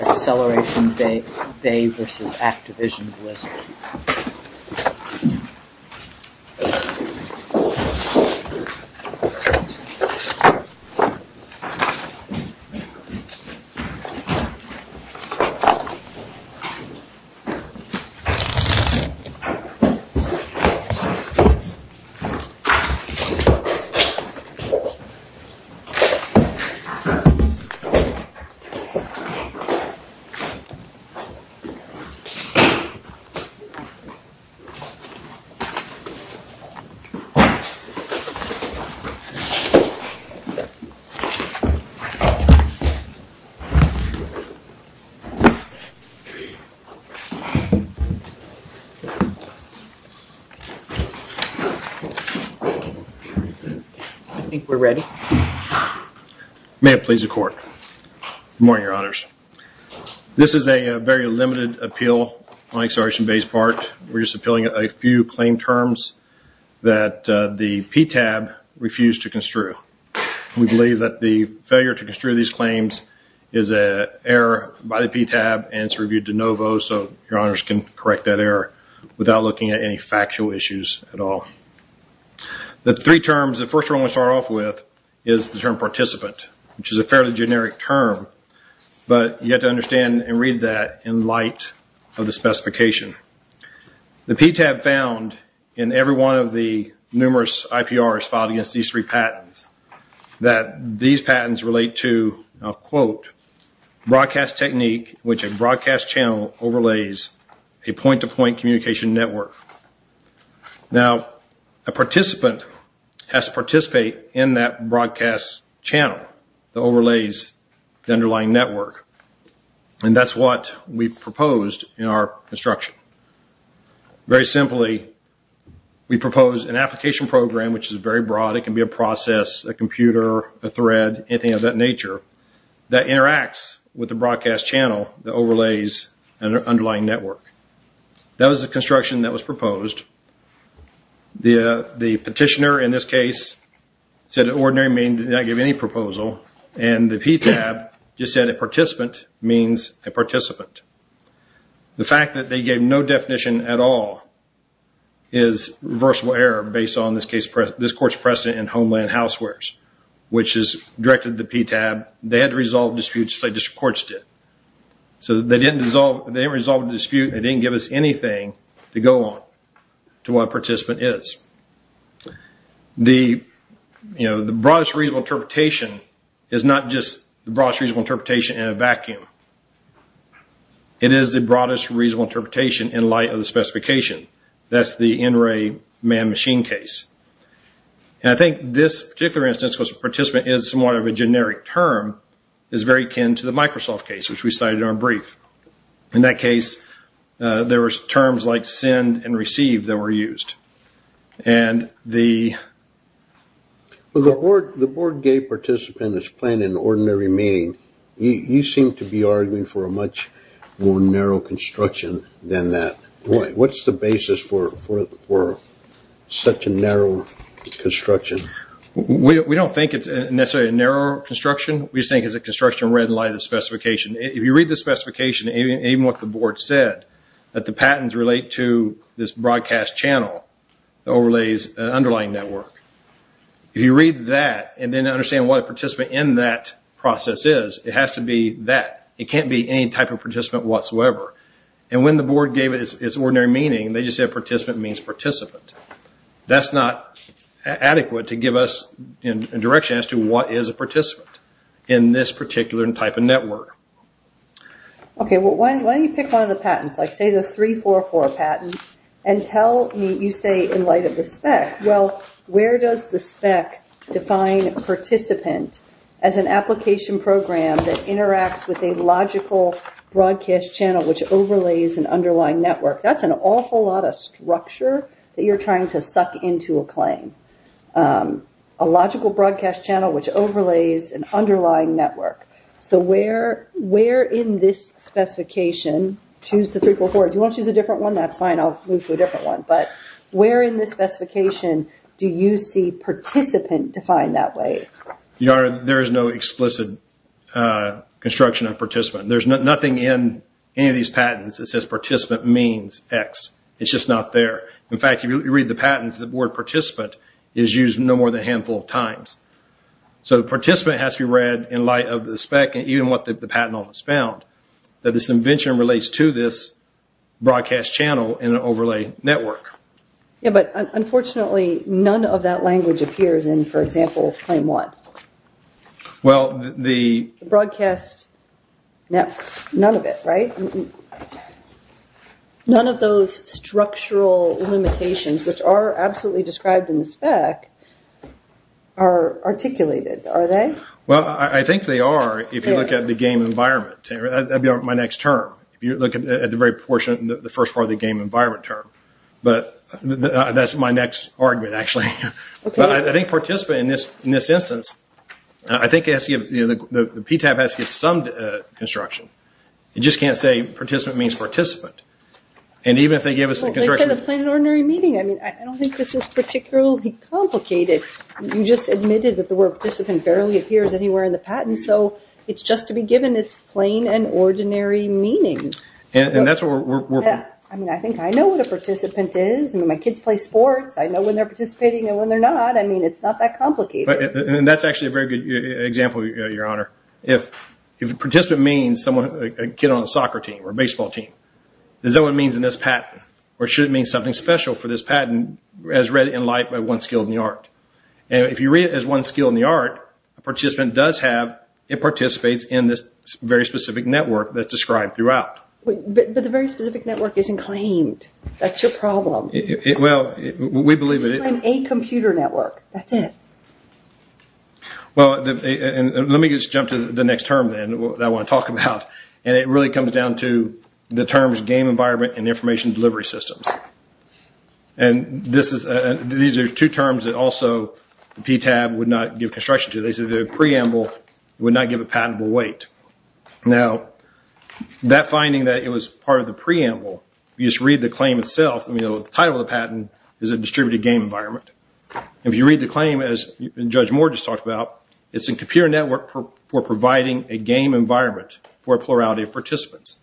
Acceleration Bay, LLC v. Activision Blizzard I think we're ready. May it please the court. Good morning, your honors. This is a very limited appeal on Acceleration Bay's part. We're just appealing a few claim terms that the PTAB refused to construe. We believe that the failure to construe these claims is an error by the PTAB, and it's reviewed de novo so your honors can correct that error without looking at any factual issues at all. The three terms, the first one we'll start off with is the term participant, which is a fairly generic term, but you have to understand and read that in light of the specification. The PTAB found in every one of the numerous IPRs filed against these three patents that these patents relate to, and I'll quote, broadcast technique in which a broadcast channel overlays a point-to-point communication network. Now, a participant has to participate in that broadcast channel that overlays the underlying network, and that's what we proposed in our construction. Very simply, we proposed an application program, which is very broad. It can be a process, a computer, a thread, anything of that nature, that interacts with the broadcast channel that overlays an underlying network. That was the construction that was proposed. The petitioner, in this case, said an ordinary mean did not give any proposal, and the PTAB just said a participant means a participant. The fact that they gave no definition at all is reversible error based on, in this case, this court's precedent in Homeland Housewares, which is directed to the PTAB. They had to resolve disputes just like district courts did. They didn't resolve a dispute. They didn't give us anything to go on to what a participant is. The broadest reasonable interpretation is not just the broadest reasonable interpretation in a vacuum. It is the broadest reasonable interpretation in light of the specification. That's the NRA man-machine case. I think this particular instance, because participant is somewhat of a generic term, is very akin to the Microsoft case, which we cited in our brief. In that case, there were terms like send and receive that were used. The board gave participant as plain an ordinary mean. You seem to be arguing for a much more narrow construction than that. What's the basis for such a narrow construction? We don't think it's necessarily a narrow construction. We just think it's a construction read in light of the specification. If you read the specification, even what the board said, that the patents relate to this broadcast channel that overlays an underlying network, if you read that and then understand what a participant in that process is, it has to be that. It can't be any type of participant whatsoever. And when the board gave it its ordinary meaning, they just said participant means participant. That's not adequate to give us a direction as to what is a participant in this particular type of network. Why don't you pick one of the patents, say the 344 patent, and tell me, you say in light of the spec, where does the spec define participant as an application program that interacts with a logical broadcast channel which overlays an underlying network? That's an awful lot of structure that you're trying to suck into a claim. A logical broadcast channel which overlays an underlying network. So where in this specification, choose the 344. Do you want to choose a different one? That's fine. I'll move to a different one. But where in this specification do you see participant defined that way? Your Honor, there is no explicit construction of participant. There's nothing in any of these patents that says participant means X. It's just not there. In fact, if you read the patents, the word participant is used no more than a handful of times. So participant has to be read in light of the spec and even what the patent on this found, that this invention relates to this broadcast channel in an overlay network. But unfortunately, none of that language appears in, for example, claim one. The broadcast, none of it, right? None of those structural limitations which are absolutely described in the spec are articulated, are they? Well, I think they are if you look at the game environment. That would be my next term. If you look at the very first part of the game environment term. But that's my next argument, actually. But I think participant in this instance, I think the PTAB has to give some construction. You just can't say participant means participant. And even if they give us the construction. They said a plain and ordinary meaning. I mean, I don't think this is particularly complicated. You just admitted that the word participant barely appears anywhere in the patent. So it's just to be given its plain and ordinary meaning. And that's where we're from. I mean, I think I know what a participant is. My kids play sports. I know when they're participating and when they're not. I mean, it's not that complicated. And that's actually a very good example, Your Honor. If participant means a kid on a soccer team or a baseball team. Is that what it means in this patent? Or should it mean something special for this patent as read in light by one skilled in the art? And if you read it as one skilled in the art, a participant does have, it participates in this very specific network that's described throughout. But the very specific network isn't claimed. That's your problem. Well, we believe it is. A computer network. That's it. Well, let me just jump to the next term then that I want to talk about. And it really comes down to the terms game environment and information delivery systems. And these are two terms that also PTAB would not give construction to. They said the preamble would not give a patentable weight. Now, that finding that it was part of the preamble, you just read the claim itself. The title of the patent is a distributed game environment. If you read the claim as Judge Moore just talked about, it's a computer network for providing a game environment for a plurality of participants.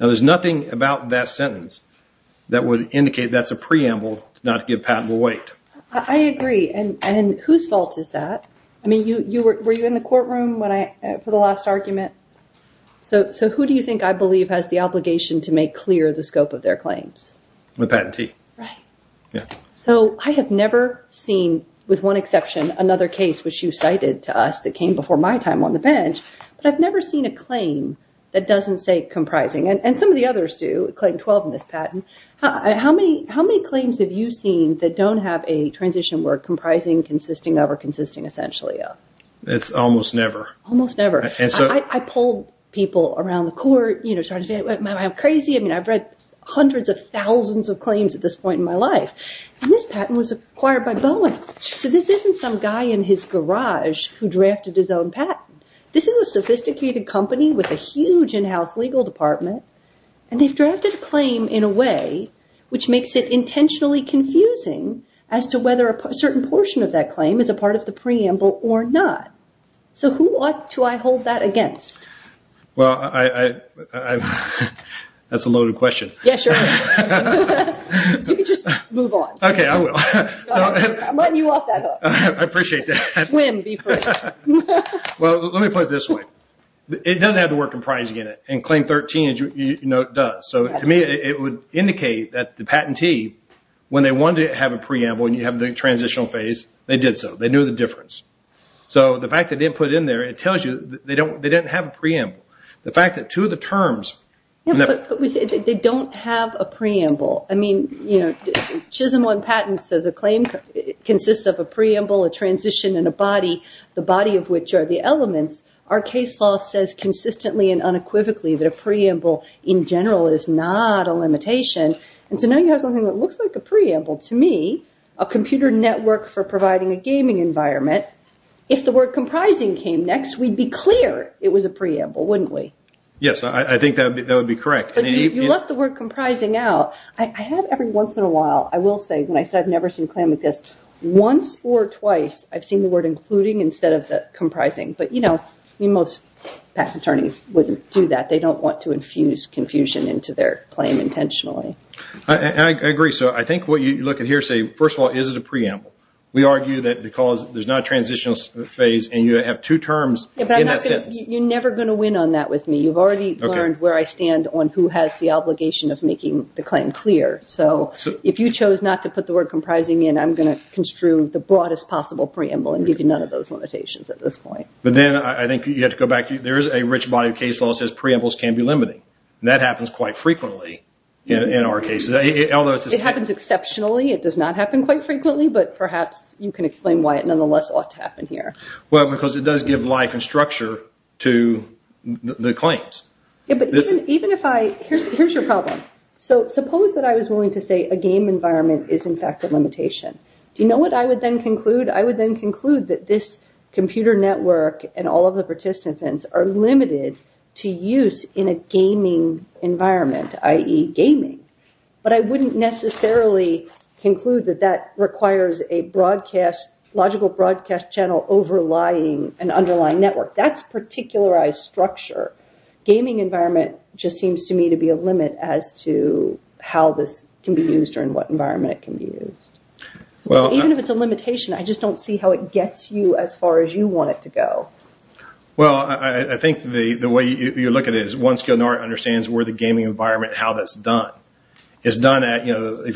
Now, there's nothing about that sentence that would indicate that's a preamble to not give patentable weight. I agree. And whose fault is that? I mean, were you in the courtroom for the last argument? So who do you think I believe has the obligation to make clear the scope of their claims? The patentee. Right. So I have never seen, with one exception, another case which you cited to us that came before my time on the bench, but I've never seen a claim that doesn't say comprising. And some of the others do. Claim 12 in this patent. How many claims have you seen that don't have a transition word comprising, consisting of, or consisting essentially of? It's almost never. Almost never. I polled people around the court, you know, started saying, am I crazy? I mean, I've read hundreds of thousands of claims at this point in my life. And this patent was acquired by Boeing. So this isn't some guy in his garage who drafted his own patent. This is a sophisticated company with a huge in-house legal department, and they've drafted a claim in a way which makes it intentionally confusing as to whether a certain portion of that claim is a part of the preamble or not. So who ought to I hold that against? Well, that's a loaded question. Yeah, sure. You can just move on. Okay, I will. I'm letting you off that hook. I appreciate that. Swim, be free. Well, let me put it this way. It doesn't have the word comprising in it, and claim 13, you know, does. So to me, it would indicate that the patentee, when they wanted to have a preamble and you have the transitional phase, they did so. They knew the difference. So the fact they didn't put it in there, it tells you they didn't have a preamble. The fact that two of the terms. Yeah, but they don't have a preamble. I mean, you know, Chisholm 1 patent says a claim consists of a preamble, a transition, and a body, the body of which are the elements. Our case law says consistently and unequivocally that a preamble in general is not a limitation. And so now you have something that looks like a preamble. To me, a computer network for providing a gaming environment, if the word comprising came next, we'd be clear it was a preamble, wouldn't we? Yes, I think that would be correct. But you left the word comprising out. I have every once in a while, I will say, when I say I've never seen a claim like this, once or twice I've seen the word including instead of the comprising. But, you know, most patent attorneys wouldn't do that. They don't want to infuse confusion into their claim intentionally. I agree. So I think what you look at here, say, first of all, is it a preamble? We argue that because there's not a transitional phase and you have two terms in that sentence. You're never going to win on that with me. You've already learned where I stand on who has the obligation of making the claim clear. So if you chose not to put the word comprising in, I'm going to construe the broadest possible preamble and give you none of those limitations at this point. But then I think you have to go back. There is a rich body of case law that says preambles can be limiting. And that happens quite frequently in our cases. It happens exceptionally. It does not happen quite frequently. But perhaps you can explain why it nonetheless ought to happen here. Well, because it does give life and structure to the claims. But even if I – here's your problem. So suppose that I was willing to say a game environment is in fact a limitation. Do you know what I would then conclude? I would then conclude that this computer network and all of the participants are limited to use in a gaming environment, i.e. gaming. But I wouldn't necessarily conclude that that requires a logical broadcast channel overlying an underlying network. That's particularized structure. Gaming environment just seems to me to be a limit as to how this can be used or in what environment it can be used. Even if it's a limitation, I just don't see how it gets you as far as you want it to go. Well, I think the way you look at it is one skill nor understands where the gaming environment and how that's done. If you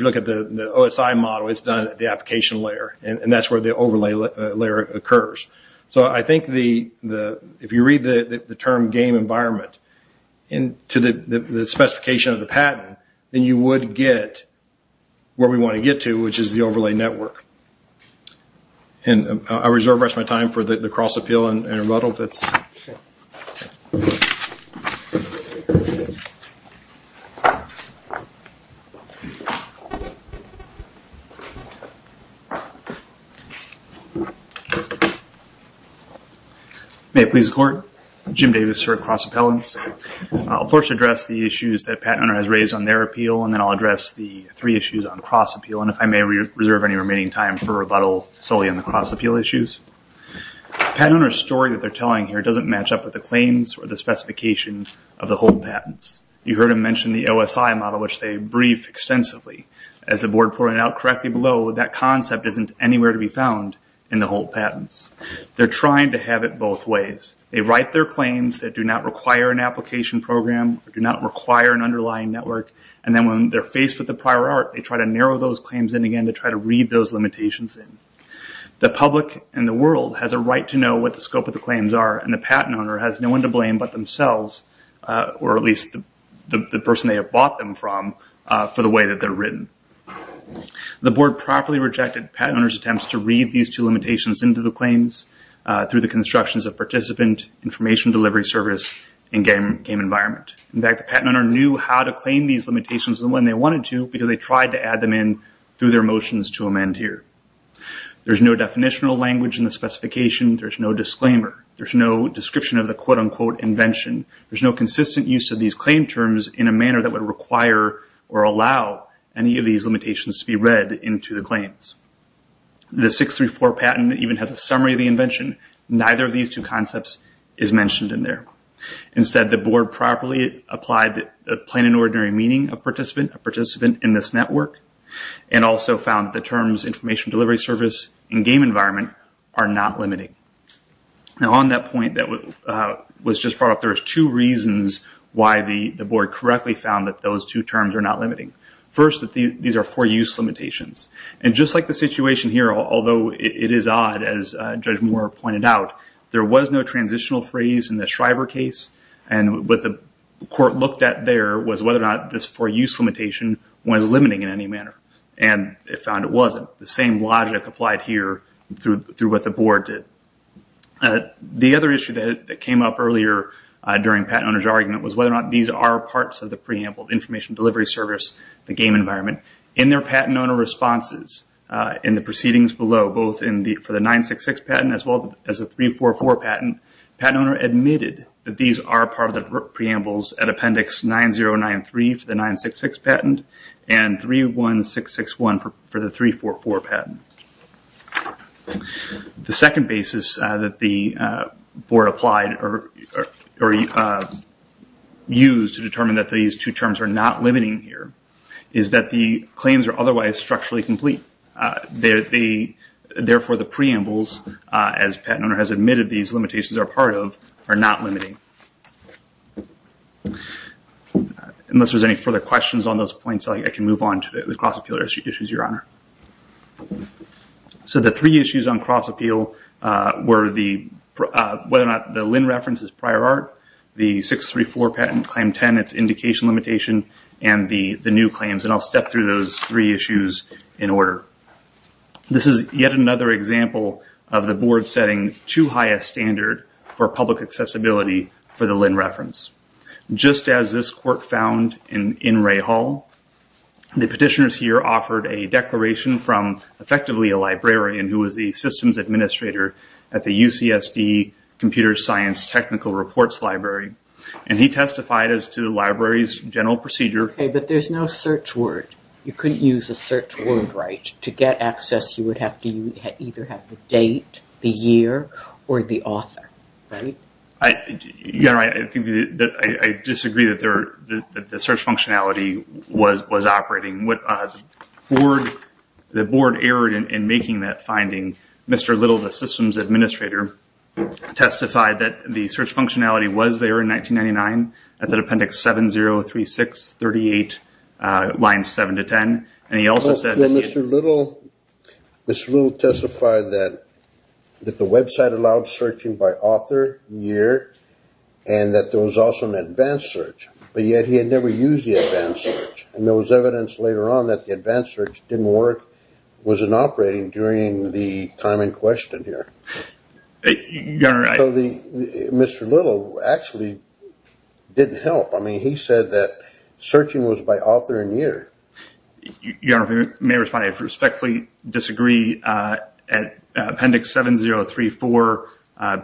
look at the OSI model, it's done at the application layer. And that's where the overlay layer occurs. So I think if you read the term game environment into the specification of the patent, then you would get where we want to get to, which is the overlay network. And I reserve the rest of my time for the cross-appeal and rebuttal. May it please the Court. Jim Davis, sir, cross-appellants. I'll first address the issues that Pat Hunter has raised on their appeal, and then I'll address the three issues on cross-appeal. And if I may reserve any remaining time for rebuttal solely on the cross-appeal issues. Pat Hunter's story that they're telling here doesn't match up with the claims or the specification of the whole patents. You heard him mention the OSI model, which they brief extensively. As the Board pointed out correctly below, that concept isn't anywhere to be found in the whole patents. They're trying to have it both ways. They write their claims that do not require an application program or do not require an underlying network. And then when they're faced with the prior art, they try to narrow those claims in again to try to read those limitations in. The public and the world has a right to know what the scope of the claims are, and the patent owner has no one to blame but themselves, or at least the person they have bought them from, for the way that they're written. The Board properly rejected Pat Hunter's attempts to read these two limitations into the claims through the constructions of participant, information delivery service, and game environment. In fact, the patent owner knew how to claim these limitations and when they wanted to because they tried to add them in through their motions to amend here. There's no definitional language in the specification. There's no disclaimer. There's no description of the quote-unquote invention. There's no consistent use of these claim terms in a manner that would require or allow any of these limitations to be read into the claims. The 634 patent even has a summary of the invention. Neither of these two concepts is mentioned in there. Instead, the Board properly applied the plain and ordinary meaning of participant, a participant in this network, and also found the terms information delivery service and game environment are not limiting. Now on that point that was just brought up, there's two reasons why the Board correctly found that those two terms are not limiting. First, these are for-use limitations. And just like the situation here, although it is odd, as Judge Moore pointed out, there was no transitional phrase in the Shriver case. And what the court looked at there was whether or not this for-use limitation was limiting in any manner. And it found it wasn't. The same logic applied here through what the Board did. The other issue that came up earlier during Patent Owner's Argument was whether or not these are parts of the preamble, information delivery service, the game environment. In their Patent Owner responses in the proceedings below, both for the 966 patent as well as the 344 patent, Patent Owner admitted that these are part of the preambles at Appendix 9093 for the 966 patent and 31661 for the 344 patent. The second basis that the Board applied or used to determine that these two terms are not limiting here is that the claims are otherwise structurally complete. Therefore, the preambles, as Patent Owner has admitted these limitations are part of, are not limiting. Unless there's any further questions on those points, I can move on to the cross-appeal issues, Your Honor. So the three issues on cross-appeal were whether or not the Linn reference is prior art, the 634 patent Claim 10, its indication limitation, and the new claims. I'll step through those three issues in order. This is yet another example of the Board setting too high a standard for public accessibility for the Linn reference. Just as this work found in Ray Hall, the petitioners here offered a declaration from effectively a librarian who was the systems administrator at the UCSD Computer Science Technical Reports Library. He testified as to the library's general procedure. Okay, but there's no search word. You couldn't use a search word, right? To get access, you would have to either have the date, the year, or the author, right? Your Honor, I disagree that the search functionality was operating. The Board erred in making that finding. Mr. Little, the systems administrator, testified that the search functionality was there in 1999. That's at appendix 703638, lines 7 to 10. Mr. Little testified that the website allowed searching by author, year, and that there was also an advanced search. But yet he had never used the advanced search. And there was evidence later on that the advanced search didn't work, wasn't operating during the time in question here. So Mr. Little actually didn't help. I mean, he said that searching was by author and year. Your Honor, if I may respond, I respectfully disagree. At appendix 7034,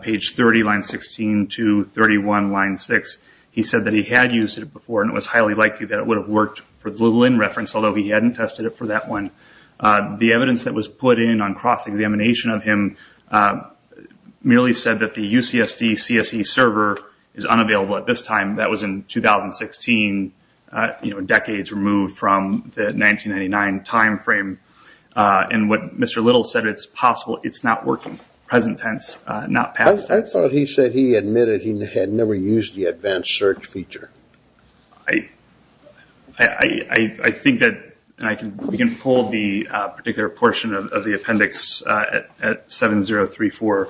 page 30, line 16 to 31, line 6, he said that he had used it before and it was highly likely that it would have worked for the Lin reference, although he hadn't tested it for that one. The evidence that was put in on cross-examination of him merely said that the UCSD CSE server is unavailable at this time. That was in 2016, decades removed from the 1999 time frame. And what Mr. Little said, it's possible it's not working, present tense, not past tense. I thought he said he admitted he had never used the advanced search feature. I think that we can pull the particular portion of the appendix at 7034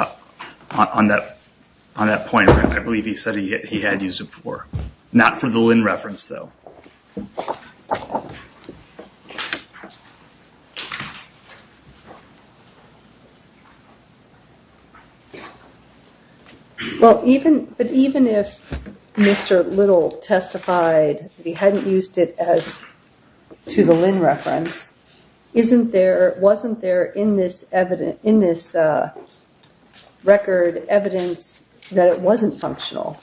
on that point. I believe he said he had used it before. Not for the Lin reference, though. Well, even if Mr. Little testified that he hadn't used it as to the Lin reference, wasn't there in this record evidence that it wasn't functional?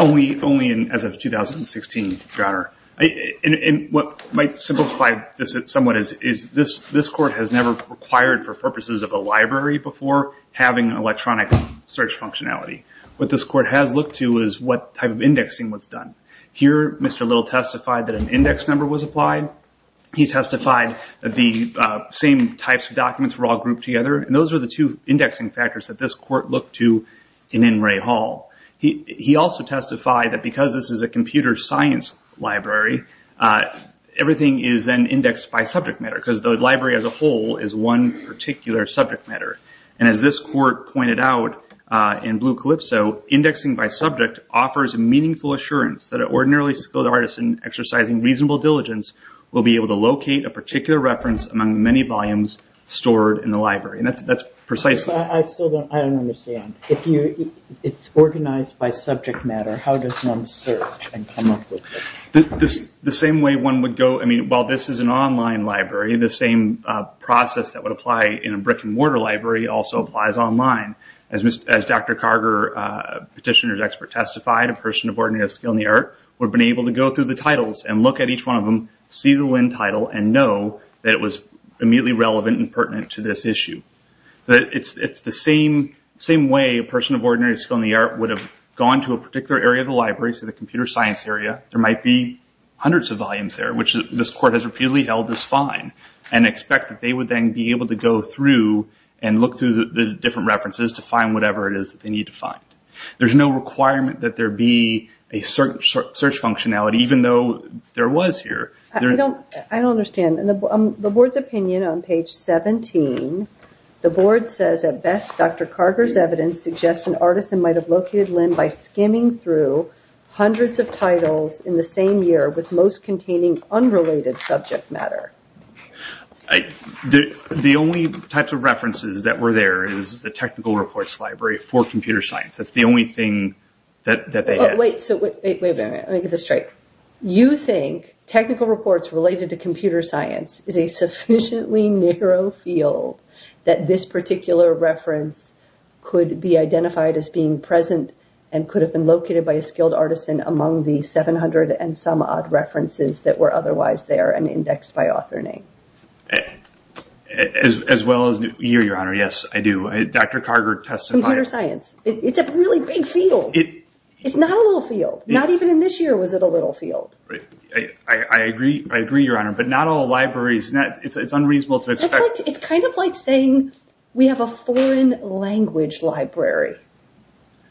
Only as of 2016, John. What might simplify this somewhat is this court has never required, for purposes of a library, before having electronic search functionality. What this court has looked to is what type of indexing was done. Here, Mr. Little testified that an index number was applied. He testified that the same types of documents were all grouped together. Those are the two indexing factors that this court looked to in N. Ray Hall. He also testified that because this is a computer science library, everything is then indexed by subject matter. Because the library as a whole is one particular subject matter. And as this court pointed out in Blue Calypso, indexing by subject offers a meaningful assurance that an ordinarily skilled artist in exercising reasonable diligence will be able to locate a particular reference among many volumes stored in the library. That's precisely... I still don't understand. If it's organized by subject matter, how does one search and come up with it? The same way one would go... While this is an online library, the same process that would apply in a brick and mortar library also applies online. As Dr. Carger, petitioner's expert, testified, a person of ordinary skill in the art would have been able to go through the titles and look at each one of them, see the Lin title, and know that it was immediately relevant and pertinent to this issue. It's the same way a person of ordinary skill in the art would have gone to a particular area of the library, say the computer science area. There might be hundreds of volumes there, which this court has repeatedly held as fine, and expect that they would then be able to go through and look through the different references to find whatever it is that they need to find. There's no requirement that there be a search functionality, even though there was here. I don't understand. In the board's opinion on page 17, the board says, at best, Dr. Carger's evidence suggests an artisan might have located Lin by skimming through hundreds of titles in the same year with most containing unrelated subject matter. The only types of references that were there is the technical reports library for computer science. That's the only thing that they had. Wait a minute. Let me get this straight. You think technical reports related to computer science is a sufficiently narrow field that this particular reference could be identified as being present and could have been located by a skilled artisan among the 700 and some odd references that were otherwise there and indexed by author name? As well as here, Your Honor, yes, I do. Dr. Carger testified... Computer science. It's a really big field. It's not a little field. Not even in this year was it a little field. I agree, Your Honor, but not all libraries... It's unreasonable to expect... It's kind of like saying we have a foreign language library.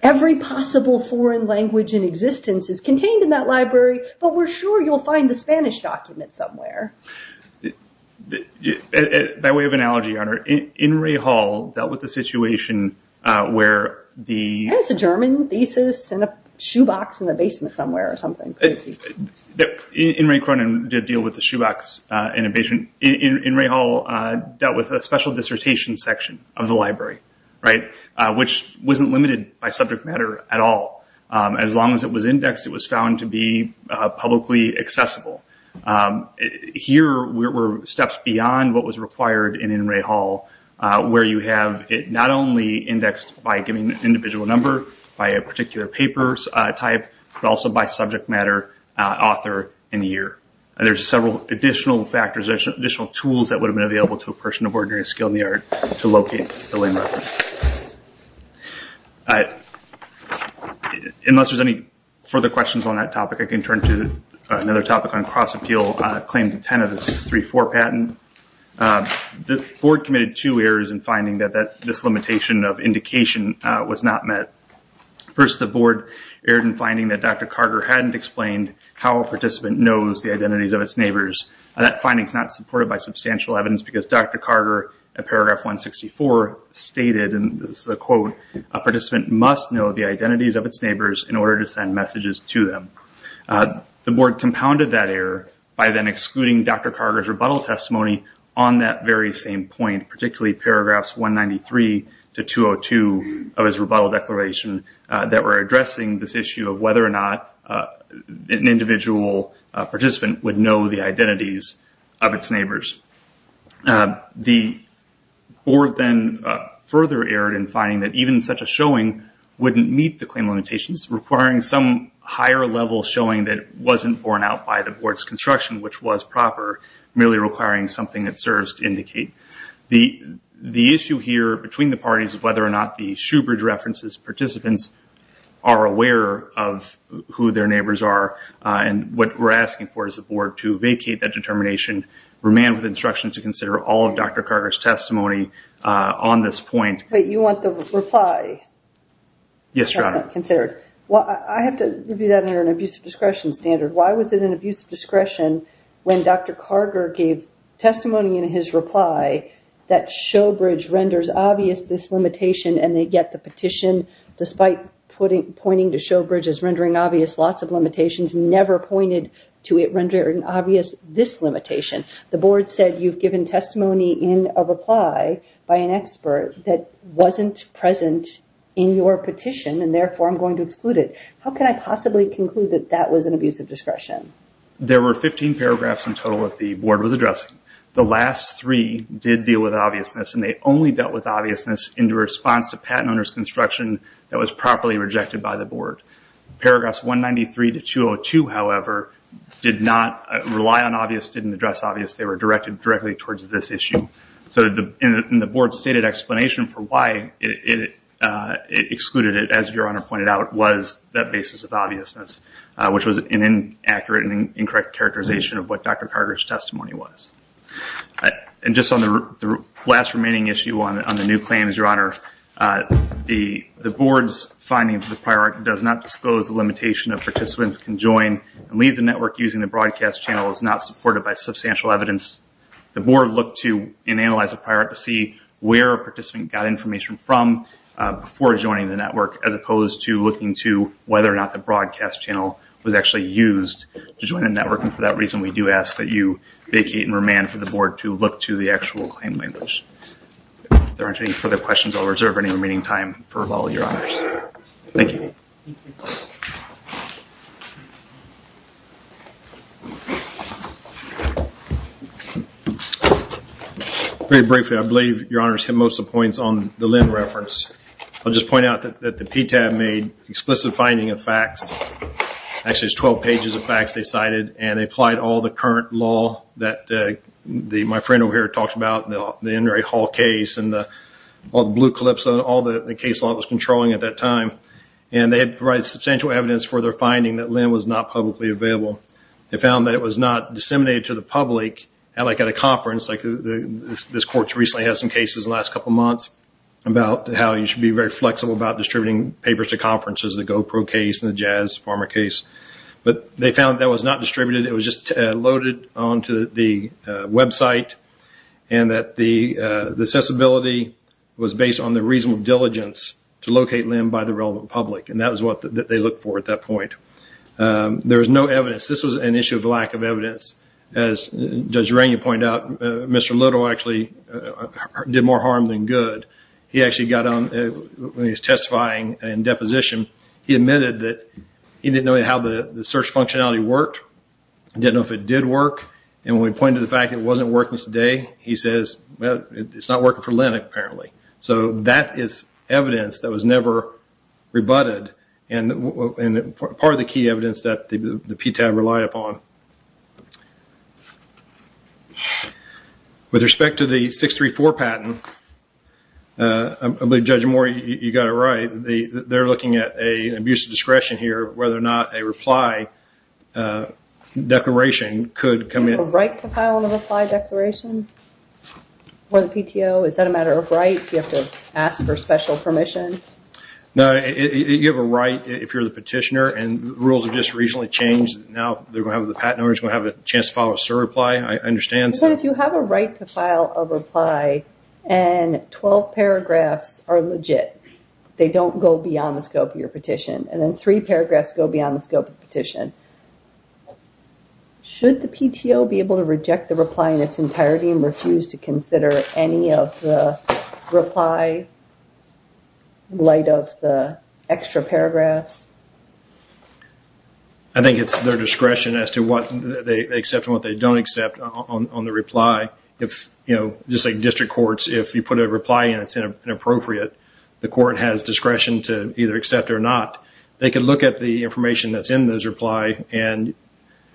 Every possible foreign language in existence is contained in that library, but we're sure you'll find the Spanish document somewhere. By way of analogy, Your Honor, Inouye Hall dealt with the situation where the... I think it's a German thesis and a shoebox in the basement somewhere or something. Inouye Cronin did deal with the shoebox in a basement. Inouye Hall dealt with a special dissertation section of the library, which wasn't limited by subject matter at all. As long as it was indexed, it was found to be publicly accessible. Here were steps beyond what was required in Inouye Hall where you have it not only indexed by giving an individual number, by a particular paper type, but also by subject matter, author, and year. There's several additional factors, additional tools that would have been available to a person of ordinary skill in the art to locate the lame reference. Unless there's any further questions on that topic, I can turn to another topic on cross-appeal, claim to 10 of the 634 patent. The board committed two errors in finding that this limitation of indication was not met. First, the board erred in finding that Dr. Carter hadn't explained how a participant knows the identities of its neighbors. That finding's not supported by substantial evidence because Dr. Carter, in paragraph 164, stated, and this is a quote, a participant must know the identities of its neighbors in order to send messages to them. The board compounded that error by then excluding Dr. Carter's rebuttal testimony on that very same point, particularly paragraphs 193 to 202 of his rebuttal declaration that were addressing this issue of whether or not an individual participant would know the identities of its neighbors. The board then further erred in finding that even such a showing wouldn't meet the claim limitations, requiring some higher level showing that wasn't borne out by the board's construction, which was proper, merely requiring something that serves to indicate. The issue here between the parties is whether or not the Shoebridge references participants are aware of who their neighbors are, and what we're asking for is the board to vacate that determination, remain with instruction to consider all of Dr. Carter's testimony on this point. Wait, you want the reply? Yes, Your Honor. I have to review that under an abuse of discretion standard. Why was it an abuse of discretion when Dr. Carter gave testimony in his reply that Shoebridge renders obvious this limitation and they get the petition despite pointing to Shoebridge as rendering obvious lots of limitations, never pointed to it rendering obvious this limitation? The board said you've given testimony in a reply by an expert that wasn't present in your petition, and therefore I'm going to exclude it. How can I possibly conclude that that was an abuse of discretion? There were 15 paragraphs in total that the board was addressing. The last three did deal with obviousness, and they only dealt with obviousness in response to patent owner's construction that was properly rejected by the board. Paragraphs 193 to 202, however, did not rely on obvious, didn't address obvious. They were directed directly towards this issue. So in the board's stated explanation for why it excluded it, as Your Honor pointed out, was that basis of obviousness, which was an inaccurate and incorrect characterization of what Dr. Carter's testimony was. And just on the last remaining issue on the new claims, Your Honor, the board's finding of the priority does not disclose the limitation of participants can join and leave the network using the broadcast channel is not supported by substantial evidence. The board looked to and analyzed the priority to see where a participant got information from before joining the network, as opposed to looking to whether or not the broadcast channel was actually used to join a network, and for that reason we do ask that you vacate and remand for the board to look to the actual claim language. If there aren't any further questions, I'll reserve any remaining time for all of Your Honors. Thank you. Very briefly, I believe Your Honors hit most of the points on the Lynn reference. I'll just point out that the PTAB made explicit finding of facts. Actually, it's 12 pages of facts they cited, and they applied all the current law that my friend over here talked about, the Inouye Hall case and all the blue clips, all the case law it was controlling at that time, and they had provided substantial evidence for their finding that Lynn was not publicly available. They found that it was not disseminated to the public, like at a conference. This court recently had some cases in the last couple months about how you should be very flexible about distributing papers to conferences, the GoPro case and the Jazz Farmer case, but they found that was not distributed. It was just loaded onto the website and that the accessibility was based on the reasonable diligence to locate Lynn by the relevant public, and that was what they looked for at that point. There was no evidence. This was an issue of lack of evidence. As Judge Rainey pointed out, Mr. Little actually did more harm than good. When he was testifying in deposition, he admitted that he didn't know how the search functionality worked, didn't know if it did work, and when we pointed to the fact it wasn't working today, he says, well, it's not working for Lynn, apparently. So that is evidence that was never rebutted, and part of the key evidence that the PTAB relied upon. With respect to the 634 patent, I believe Judge Moore, you got it right, they're looking at an abuse of discretion here, whether or not a reply declaration could come in. Do you have a right to file a reply declaration for the PTO? Is that a matter of right? Do you have to ask for special permission? No. You have a right if you're the petitioner, and rules have just recently changed. Now the patent owner is going to have a chance to file a SIR reply. I understand. But if you have a right to file a reply, and 12 paragraphs are legit, they don't go beyond the scope of your petition, and then three paragraphs go beyond the scope of the petition, should the PTO be able to reject the reply in its entirety and refuse to consider any of the reply? In light of the extra paragraphs? I think it's their discretion as to what they accept and what they don't accept on the reply. Just like district courts, if you put a reply in that's inappropriate, the court has discretion to either accept it or not. They can look at the information that's in this reply and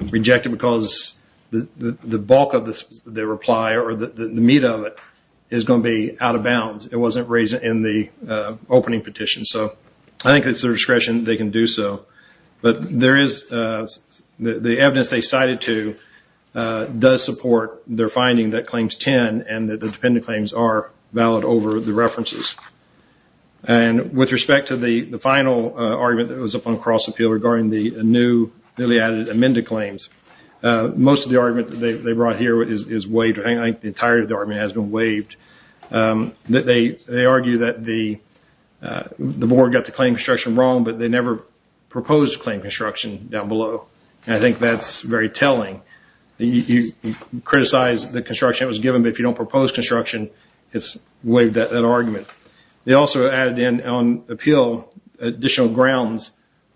reject it because the bulk of the reply, or the meat of it, is going to be out of bounds. It wasn't raised in the opening petition. I think it's their discretion that they can do so. But the evidence they cited to does support their finding that claims 10 and that the dependent claims are valid over the references. With respect to the final argument that was up on the cross appeal regarding the new newly added amended claims, most of the argument that they brought here is waived. I think the entirety of the argument has been waived. They argue that the board got the claim construction wrong, but they never proposed claim construction down below. I think that's very telling. You criticize the construction that was given, but if you don't propose construction, it's waived that argument. They also added in on appeal additional grounds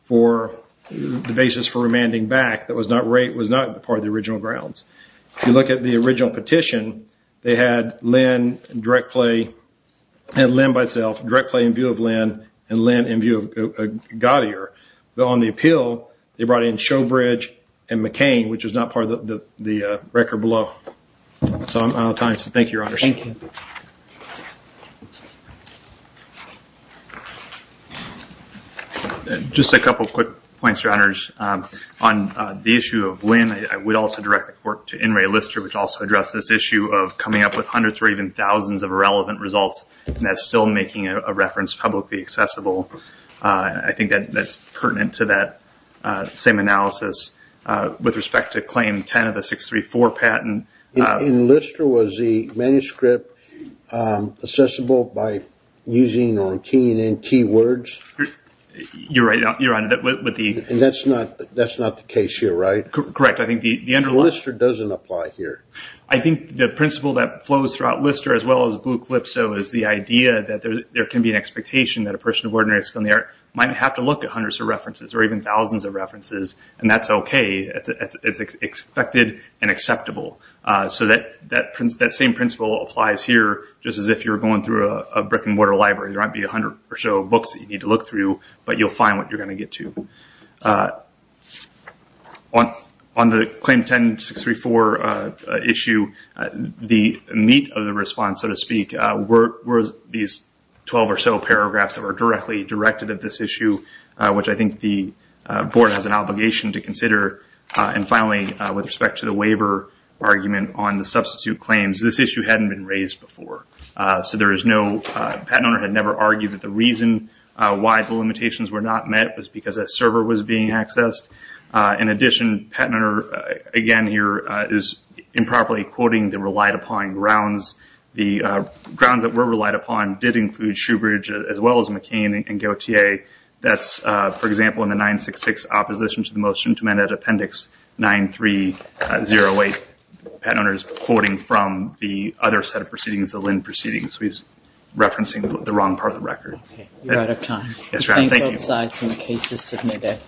for the basis for remanding back that was not part of the original grounds. If you look at the original petition, they had Lynn by itself, direct play in view of Lynn, and Lynn in view of Gaudier. On the appeal, they brought in Showbridge and McCain, which is not part of the record below. I'm out of time, so thank you, Your Honors. Thank you. Just a couple quick points, Your Honors. On the issue of Lynn, I would also direct the court to In re Lister, which also addressed this issue of coming up with hundreds or even thousands of irrelevant results, and that's still making a reference publicly accessible. I think that's pertinent to that same analysis with respect to claim 10 of the 634 patent. In Lister, was the manuscript accessible by using our T&N keywords? That's not the case here, right? Correct. Lister doesn't apply here. I think the principle that flows throughout Lister, as well as Blue Clip, is the idea that there can be an expectation that a person of ordinary skill in the art might have to look at hundreds of references or even thousands of references, and that's okay. It's expected and acceptable. That same principle applies here, just as if you're going through a brick and mortar library. There might be a hundred or so books that you need to look through, but you'll find what you're going to get to. On the claim 10, 634 issue, the meat of the response, so to speak, were these 12 or so paragraphs that were directly directed at this issue, which I think the board has an obligation to consider. Finally, with respect to the waiver argument on the substitute claims, this issue hadn't been raised before. Patent owner had never argued that the reason why the limitations were not met was because a server was being accessed. In addition, patent owner, again here, is improperly quoting the relied upon grounds. The grounds that were relied upon did include Shoebridge, as well as McCain and Gautier. That's, for example, in the 966 opposition to the motion to amend Appendix 9308. Patent owner is quoting from the other set of proceedings, the Lynn proceedings. He's referencing the wrong part of the record. Okay. You're out of time. Yes, ma'am. Thank you. Thank both sides. Case is submitted.